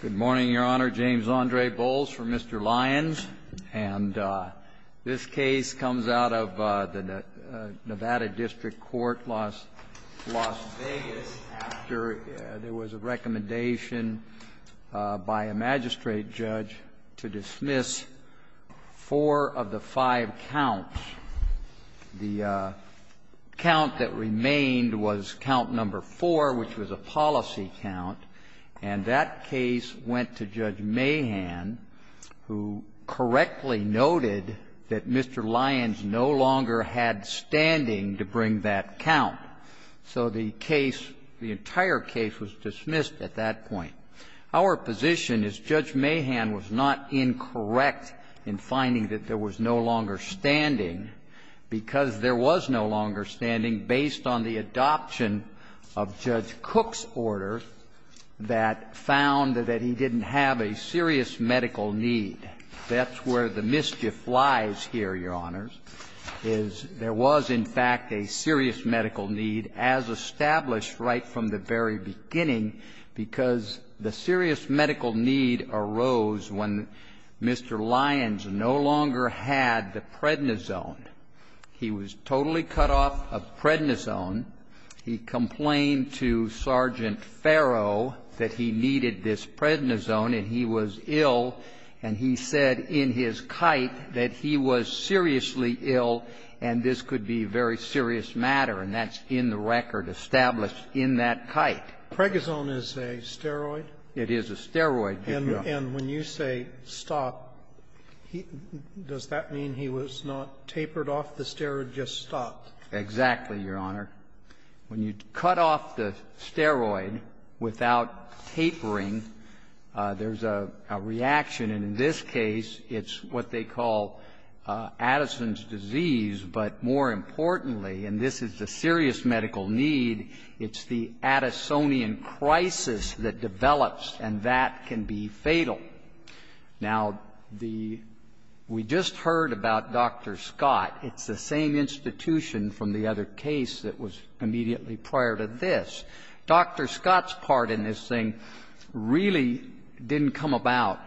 Good morning, Your Honor. James Andre Bowles for Mr. Lyons. And this case comes out of the Nevada District Court, Las Vegas, after there was a recommendation by a magistrate judge to dismiss four of the five counts. The count that remained was count number four, which was a policy count. And that case went to Judge Mahan, who correctly noted that Mr. Lyons no longer had standing to bring that count. So the case, the entire case, was dismissed at that point. Our position is Judge Mahan was not incorrect in finding that there was no longer standing, because there was no longer standing based on the adoption of Judge Cook's order that found that he didn't have a serious medical need. That's where the mischief lies here, Your Honors, is there was, in fact, a serious medical need, as established right from the very beginning, because the serious medical need arose when Mr. Lyons no longer had the prednisone. He was totally cut off of prednisone. He complained to Sergeant Farrow that he needed this prednisone and he was ill, and he said in his kite that he was seriously ill and this could be a very serious matter. And that's in the record established in that kite. Pregnison is a steroid? It is a steroid. And when you say stop, does that mean he was not tapered off the steroid, just stopped? Exactly, Your Honor. When you cut off the steroid without tapering, there's a reaction. And in this case, it's what they call Addison's disease, but more importantly, and this is the serious medical need, it's the Addisonian crisis that develops, and that can be fatal. Now, we just heard about Dr. Scott. It's the same institution from the other case that was immediately prior to this. Dr. Scott's part in this thing really didn't come about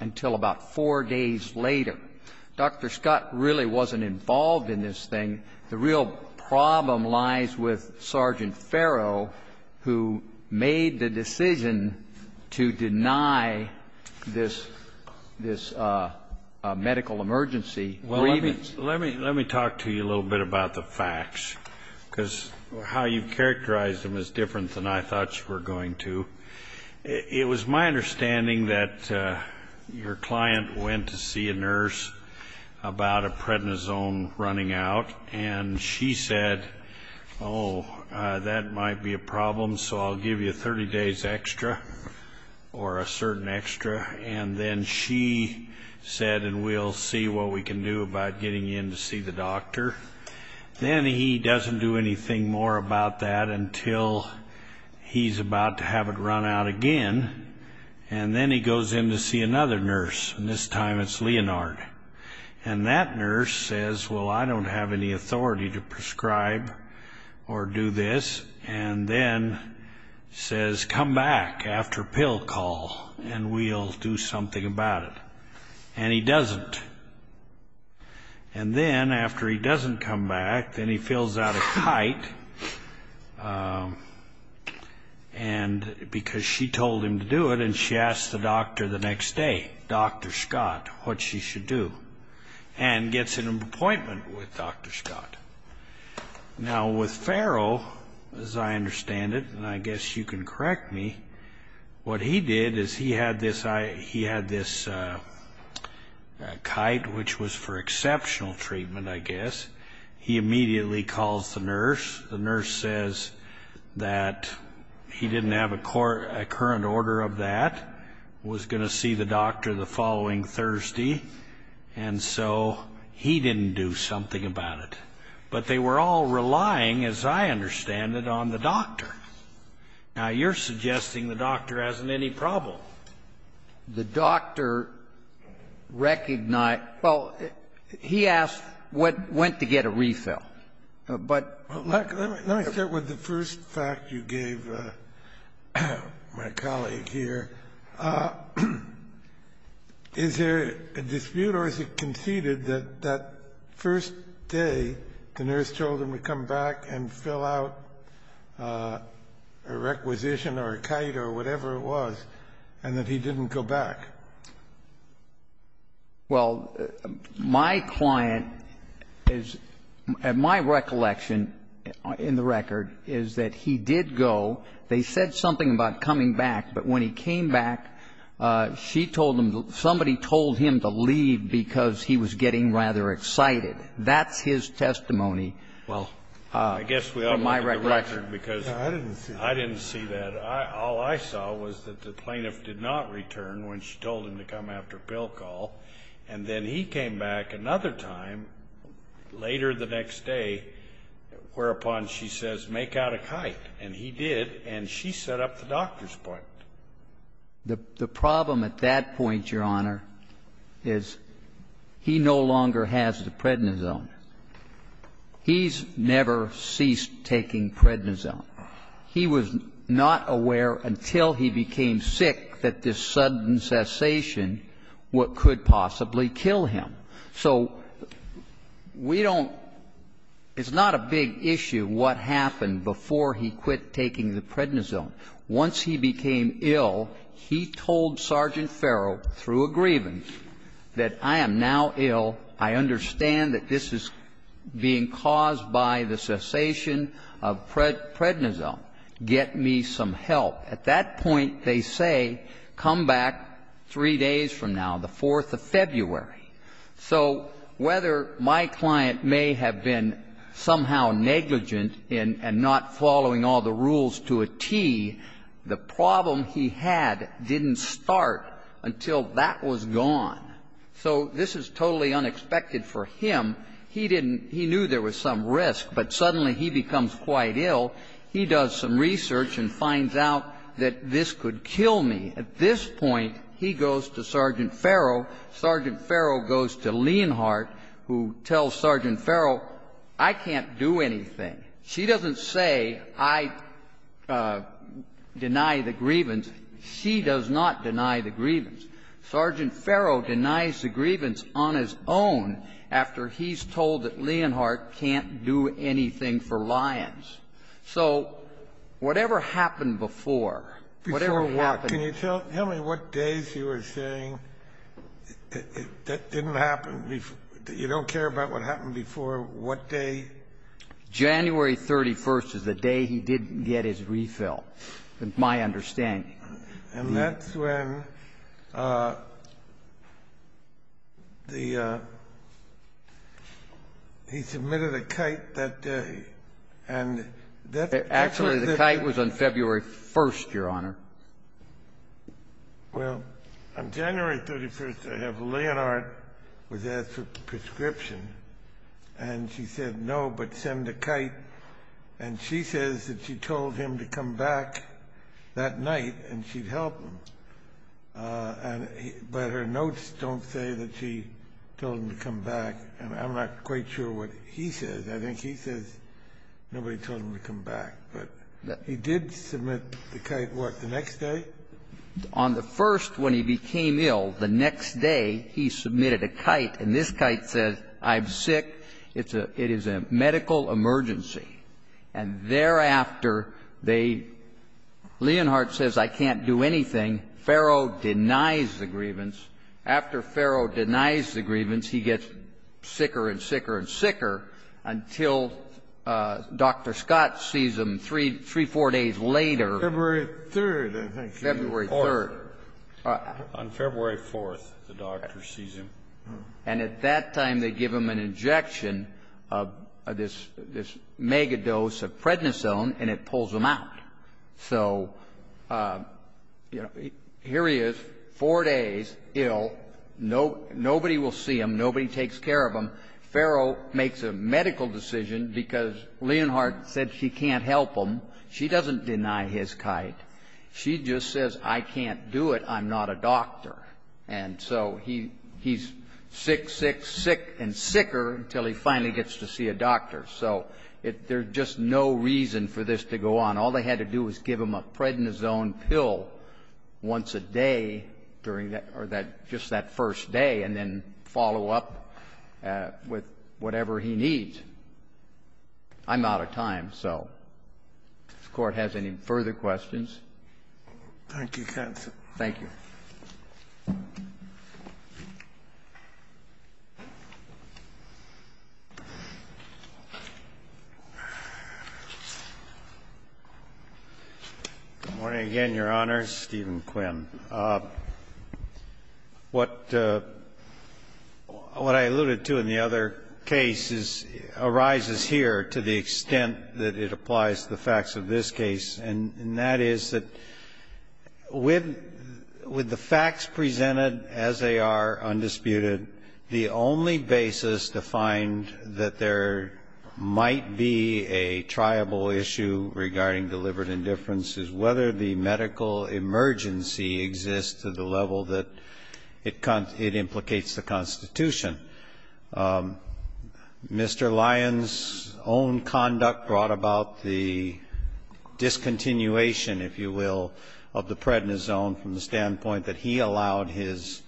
until about four days later. Dr. Scott really wasn't involved in this thing. The real problem lies with Sergeant Farrow, who made the decision to deny this – this Let me talk to you a little bit about the facts, because how you characterized them is different than I thought you were going to. It was my understanding that your client went to see a nurse about a prednisone running out, and she said, oh, that might be a problem, so I'll give you 30 days extra, or a certain extra, and then she said, and we'll see what we can do about getting in to see the doctor. Then he doesn't do anything more about that until he's about to have it run out again, and then he goes in to see another nurse, and this time it's Leonard. And that nurse says, well, I don't have any authority to prescribe or do this, and then says, come back after pill call, and we'll do something about it. And he doesn't. And then, after he doesn't come back, then he fills out a kite, because she told him to do it, and she asks the doctor the next day, Dr. Scott, what she should do, and gets an appointment with Dr. Scott. Now, with Farrell, as I understand it, and I guess you can correct me, what he did is he had this kite, which was for exceptional treatment, I guess. He immediately calls the nurse. The nurse says that he didn't have a current order of that, was going to see the doctor the following Thursday, and so he didn't do something about it. But they were all relying, as I understand it, on the doctor. Now, you're suggesting the doctor hasn't any problem. The doctor recognized — well, he asked when to get a refill. But — Well, let me start with the first fact you gave my colleague here. Is there a dispute, or is it conceded that that first day, the nurse told him to come back and fill out a requisition or a kite or whatever it was, and that he didn't go back? Well, my client is — my recollection in the record is that he did go. They said something about coming back, but when he came back, she told him — somebody told him to leave because he was getting rather excited. That's his testimony. Well, I guess we ought to look at the record, because I didn't see that. All I saw was that the plaintiff did not return when she told him to come after a bill call, and then he came back another time later the next day, whereupon she says, make out a kite. And he did, and she set up the doctor's appointment. The problem at that point, Your Honor, is he no longer has the prednisone. He's never ceased taking prednisone. He was not aware until he became sick that this sudden cessation could possibly kill him. So we don't — it's not a big issue what happened before he quit taking the prednisone. Once he became ill, he told Sergeant Farrell, through a grievance, that I am now ill. I understand that this is being caused by the cessation of prednisone. Get me some help. At that point, they say, come back three days from now, the 4th of February. So whether my client may have been somehow negligent in not following all the rules to a T, the problem he had didn't start until that was gone. So this is totally unexpected for him. He didn't — he knew there was some risk, but suddenly he becomes quite ill. He does some research and finds out that this could kill me. At this point, he goes to Sergeant Farrell. Sergeant Farrell goes to Leonhardt, who tells Sergeant Farrell, I can't do anything. She doesn't say, I deny the grievance. She does not deny the grievance. Sergeant Farrell denies the grievance on his own after he's told that Leonhardt can't do anything for Lyons. So whatever happened before, whatever happened — Can you tell me what days you were saying that didn't happen — you don't care about what happened before, what day? January 31st is the day he didn't get his refill, is my understanding. And that's when the — he submitted a kite that day, and that's — Actually, the kite was on February 1st, Your Honor. Well, on January 31st, I have — Leonhardt was asked for a prescription, and she said no, but send a kite. And she says that she told him to come back that night, and she'd help him. And — but her notes don't say that she told him to come back. And I'm not quite sure what he says. I think he says nobody told him to come back. But he did submit the kite, what, the next day? On the first, when he became ill, the next day, he submitted a kite, and this kite says, I'm sick. It's a — it is a medical emergency. And thereafter, they — Leonhardt says, I can't do anything. Farrow denies the grievance. After Farrow denies the grievance, he gets sicker and sicker and sicker until Dr. Scott sees him three, four days later. February 3rd, I think. February 3rd. On February 4th, the doctor sees him. And at that time, they give him an injection of this mega dose of prednisone, and it pulls him out. So, you know, here he is, four days ill. Nobody will see him. Nobody takes care of him. Farrow makes a medical decision because Leonhardt said she can't help him. She doesn't deny his kite. I'm not a doctor. And so he's sick, sick, sick, and sicker until he finally gets to see a doctor. So there's just no reason for this to go on. All they had to do was give him a prednisone pill once a day during that — or that — just that first day, and then follow up with whatever he needs. I'm out of time. So if the Court has any further questions. Thank you, counsel. Thank you. Good morning again, Your Honor. Stephen Quinn. What I alluded to in the other case arises here to the extent that it applies to the facts of this case. And that is that with the facts presented as they are, undisputed, the only basis to find that there might be a triable issue regarding delivered indifference is whether the medical emergency exists to the level that it implicates the Constitution. Mr. Lyons' own conduct brought about the discontinuation, if you will, of the prednisone from the standpoint that he allowed his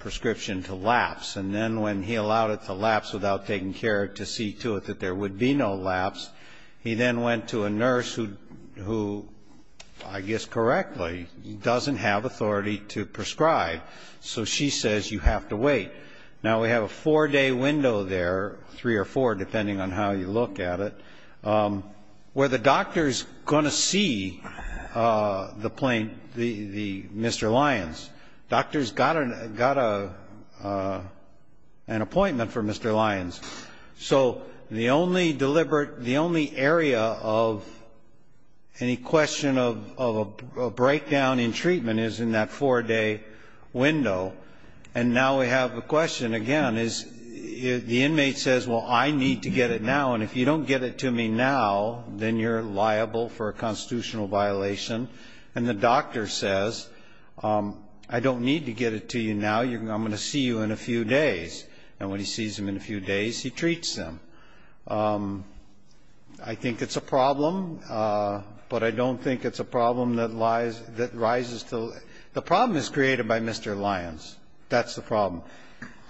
prescription to lapse. And then when he allowed it to lapse without taking care to see to it that there would be no lapse, he then went to a nurse who, I guess correctly, doesn't have authority to prescribe. So she says you have to wait. Now, we have a four-day window there, three or four, depending on how you look at it, where the doctor's going to see the Mr. Lyons. Doctor's got an appointment for Mr. Lyons. So the only deliberate, the only area of any question of a breakdown in treatment is in that four-day window. And now we have a question, again, is the inmate says, well, I need to get it now. And if you don't get it to me now, then you're liable for a constitutional violation. And the doctor says, I don't need to get it to you now. I'm going to see you in a few days. And when he sees him in a few days, he treats him. I think it's a problem, but I don't think it's a problem that lies, that rises to the problem is created by Mr. Lyons. That's the problem.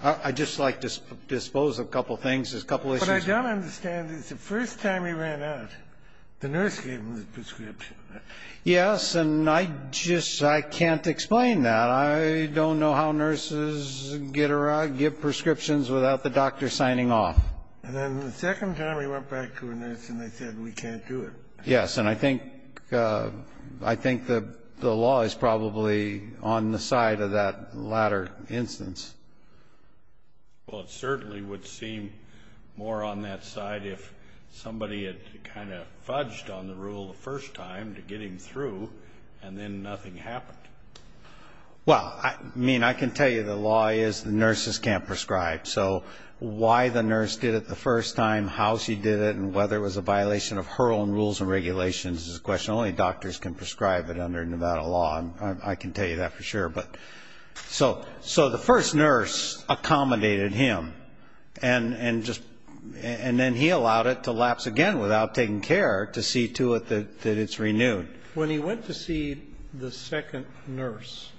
I'd just like to dispose of a couple of things, just a couple of issues. But I don't understand. It's the first time he ran out, the nurse gave him the prescription. Yes, and I just, I can't explain that. I don't know how nurses get around, give prescriptions without the doctor signing off. And then the second time we went back to a nurse and they said, we can't do it. Yes, and I think the law is probably on the side of that latter instance. Well, it certainly would seem more on that side if somebody had kind of fudged on the rule the first time to get him through, and then nothing happened. Well, I mean, I can tell you the law is the nurses can't prescribe. So why the nurse did it the first time, how she did it, and whether it was a violation of her own rules and regulations is a question only doctors can prescribe it under Nevada law. I can tell you that for sure. But so the first nurse accommodated him and then he allowed it to lapse again without taking care to see to it that it's renewed. When he went to see the second nurse,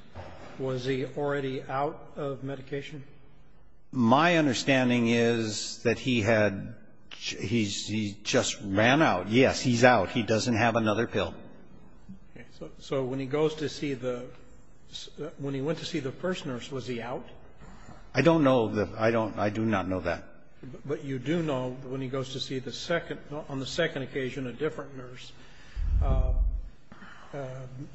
was he already out of medication? My understanding is that he had he just ran out. Yes, he's out. He doesn't have another pill. So when he goes to see the when he went to see the first nurse, was he out? I don't know that. I don't. I do not know that. But you do know when he goes to see the second on the second occasion, a different nurse,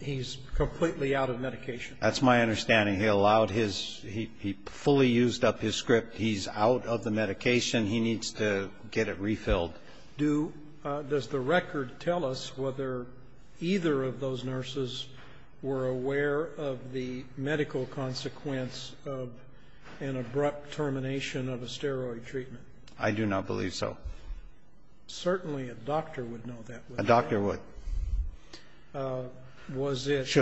he's completely out of medication. That's my understanding. He allowed his he fully used up his script. He's out of the medication. He needs to get it refilled. Do does the record tell us whether either of those nurses were aware of the medical consequence of an abrupt termination of a steroid treatment? I do not believe so. Certainly a doctor would know that. A doctor would. Was it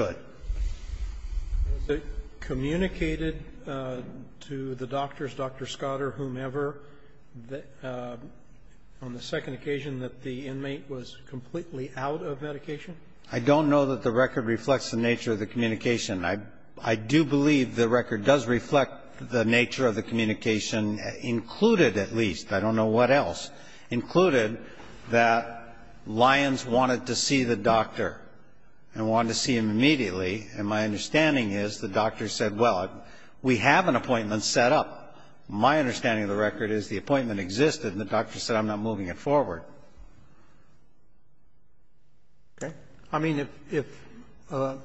communicated to the doctors, Dr. Scott or whomever, that on the second occasion that the inmate was completely out of medication? I don't know that the record reflects the nature of the communication. I do believe the record does reflect the nature of the communication, included at least. I don't know what else. Included that Lyons wanted to see the doctor and wanted to see him immediately. And my understanding is the doctor said, well, we have an appointment set up. My understanding of the record is the appointment existed and the doctor said, I'm not moving it forward. Okay. I mean, if a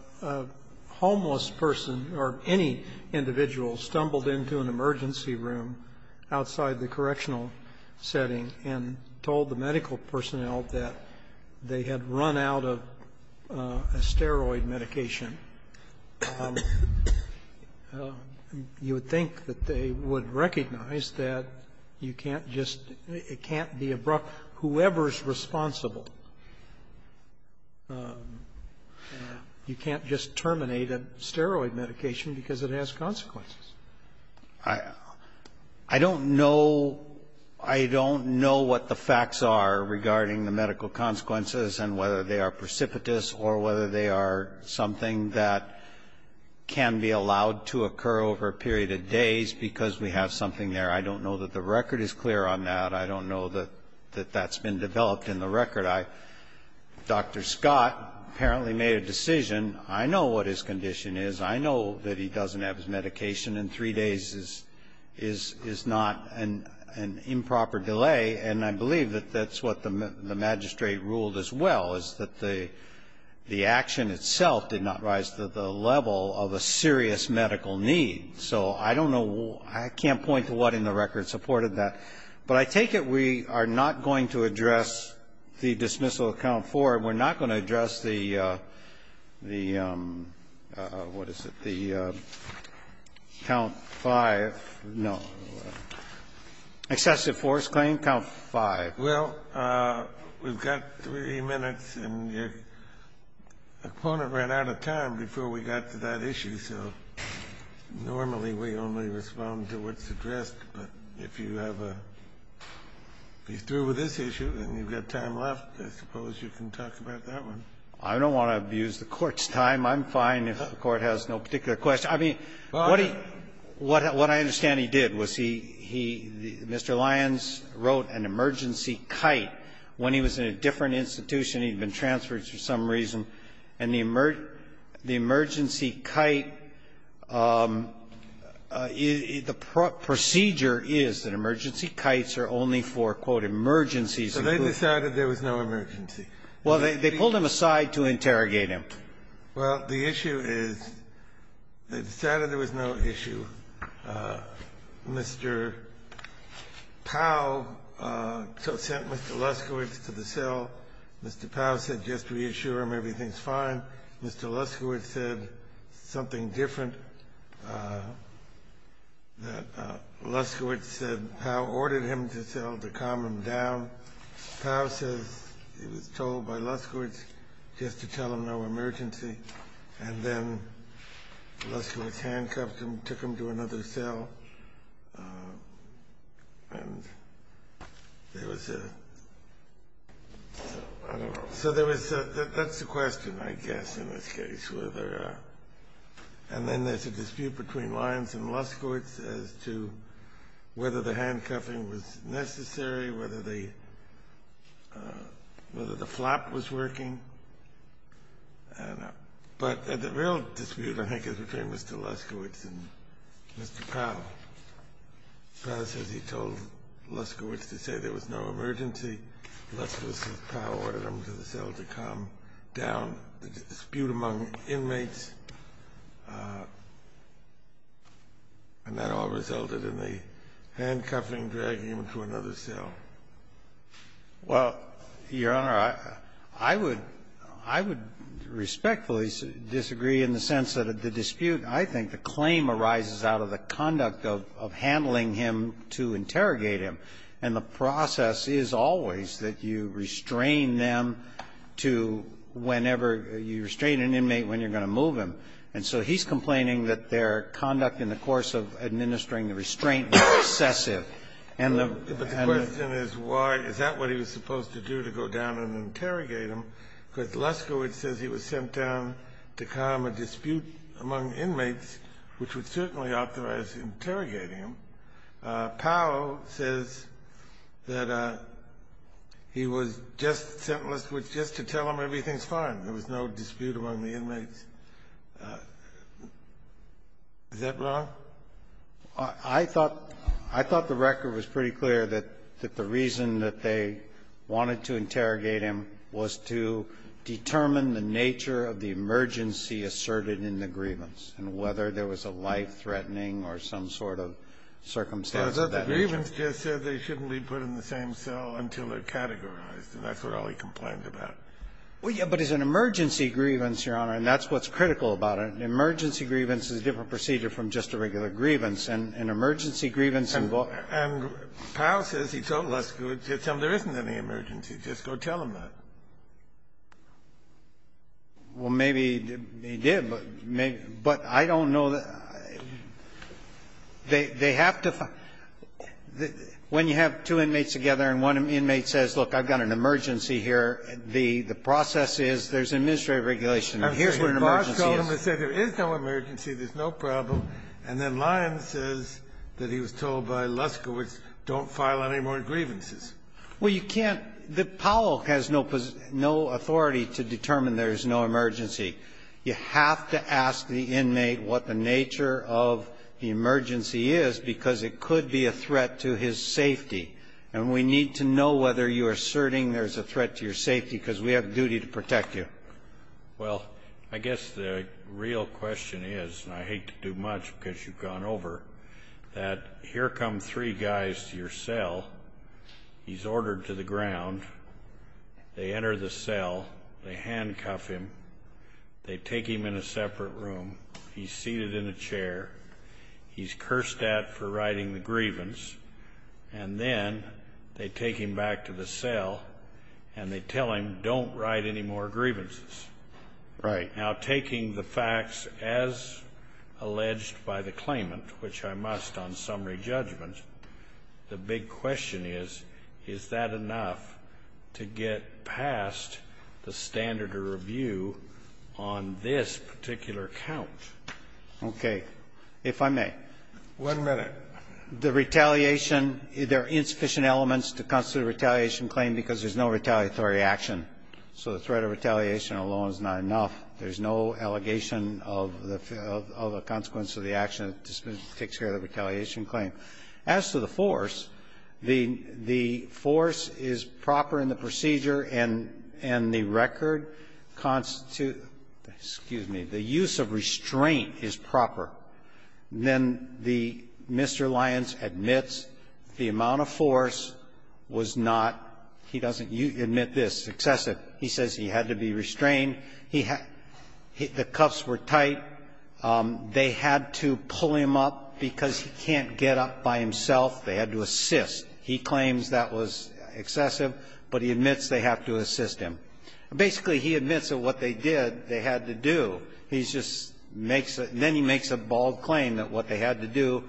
homeless person or any individual stumbled into an emergency room outside the correctional setting and told the medical personnel that they had run out of a steroid medication, you would think that they would recognize that you can't just be abrupt. Whoever is responsible, you can't just terminate a steroid medication because it has consequences. I don't know what the facts are regarding the medical consequences and whether they are precipitous or whether they are something that can be allowed to occur over a period of days because we have something there. I don't know that the record is clear on that. I don't know that that's been developed in the record. Dr. Scott apparently made a decision. I know what his condition is. I know that he doesn't have his medication and three days is not an improper delay. And I believe that that's what the magistrate ruled as well, is that the action itself did not rise to the level of a serious medical need. So I don't know. I can't point to what in the record supported that. But I take it we are not going to address the dismissal account for it. We're not going to address the, what is it, the count five, no, excessive force claim, count five. Well, we've got three minutes and your opponent ran out of time before we got to that issue, so normally we only respond to what's addressed. But if you have a, if you're through with this issue and you've got time left, I suppose you can talk about that one. I don't want to abuse the Court's time. I'm fine if the Court has no particular question. I mean, what he, what I understand he did was he, he, Mr. Lyons wrote an emergency kite when he was in a different institution. He had been transferred for some reason. And the emergency kite, the procedure is that emergency kites are only for, quote, emergencies. So they decided there was no emergency. Well, they pulled him aside to interrogate him. Well, the issue is they decided there was no issue. Mr. Powell sent Mr. Luskiewicz to the cell. Mr. Powell said just reassure him everything's fine. Mr. Luskiewicz said something different. Luskiewicz said Powell ordered him to the cell to calm him down. Powell says he was told by Luskiewicz just to tell him no emergency. And then Luskiewicz handcuffed him, took him to another cell. And there was a, I don't know. So there was a, that's the question, I guess, in this case, whether, and then there's a dispute between Lyons and Luskiewicz as to whether the handcuffing was necessary, whether the, whether the flap was working, and, but the real dispute, I think, is between Mr. Luskiewicz and Mr. Powell. Powell says he told Luskiewicz to say there was no emergency. Luskiewicz says Powell ordered him to the cell to calm down the dispute among inmates. And that all resulted in the handcuffing, dragging him to another cell. Well, Your Honor, I would, I would respectfully disagree in the sense that the dispute, I think the claim arises out of the conduct of handling him to interrogate him. And the process is always that you restrain them to whenever you restrain an inmate when you're going to move him. And so he's complaining that their conduct in the course of administering the restraint was excessive. And the question is, why, is that what he was supposed to do, to go down and interrogate him? Because Luskiewicz says he was sent down to calm a dispute among inmates, which would certainly authorize interrogating him. Powell says that he was just, sent Luskiewicz just to tell him everything's fine. There was no dispute among the inmates. Is that wrong? I thought, I thought the record was pretty clear that the reason that they wanted to interrogate him was to determine the nature of the emergency asserted in the grievance and whether there was a life-threatening or some sort of circumstance of that nature. The grievance just said they shouldn't be put in the same cell until they're categorized, and that's what all he complained about. Well, yeah, but it's an emergency grievance, Your Honor, and that's what's critical about it. An emergency grievance is a different procedure from just a regular grievance. An emergency grievance involves And Powell says he told Luskiewicz, just tell him there isn't any emergency. Just go tell him that. Well, maybe he did, but I don't know. They have to find When you have two inmates together and one inmate says, look, I've got an emergency here, the process is there's administrative regulation and here's what an emergency is. I've told him to say there is no emergency, there's no problem, and then Lyons says that he was told by Luskiewicz, don't file any more grievances. Well, you can't the Powell has no authority to determine there is no emergency. You have to ask the inmate what the nature of the emergency is, because it could be a threat to his safety. And we need to know whether you're asserting there's a threat to your safety, because we have a duty to protect you. Well, I guess the real question is, and I hate to do much because you've gone over, that here come three guys to your cell, he's ordered to the ground, they enter the cell, they handcuff him, they take him in a separate room, he's seated in a chair, he's cursed at for writing the grievance, and then they take him back to the cell and they tell him, don't write any more grievances. Right. Now, taking the facts as alleged by the claimant, which I must on summary judgment, the big question is, is that enough to get past the standard of review on this particular count? Okay. If I may. One minute. The retaliation, there are insufficient elements to constitute a retaliation claim because there's no retaliatory action. So the threat of retaliation alone is not enough. There's no allegation of the consequence of the action that takes care of the retaliation claim. As to the force, the force is proper in the procedure and the record constitutes the use of restraint is proper. Then the Mr. Lyons admits the amount of force was not, he doesn't admit this, excessive. He says he had to be restrained. He had to the cuffs were tight. They had to pull him up because he can't get up by himself. They had to assist. He claims that was excessive, but he admits they have to assist him. Basically, he admits that what they did, they had to do. He just makes a, then he makes a bold claim that what they had to do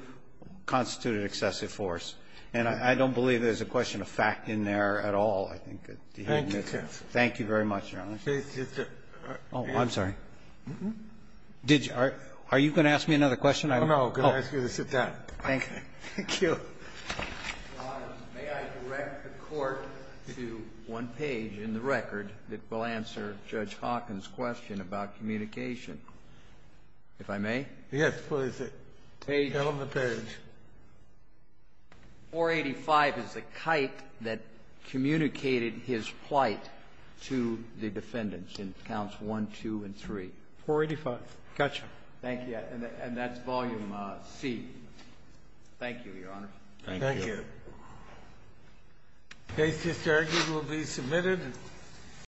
constituted excessive force. And I don't believe there's a question of fact in there at all, I think, that dehydrates Thank you very much, Your Honor. Oh, I'm sorry. Did you, are you going to ask me another question? I don't know. Can I ask you to sit down? Thank you. May I direct the Court to one page in the record that will answer Judge Hawkins' question about communication, if I may? Yes, please. Tell him the page. Page 485 is the kite that communicated his plight to the defendants in counts one, two, and three. 485. Gotcha. Thank you. And that's volume C. Thank you, Your Honor. Thank you. Thank you. The case is argued and will be submitted.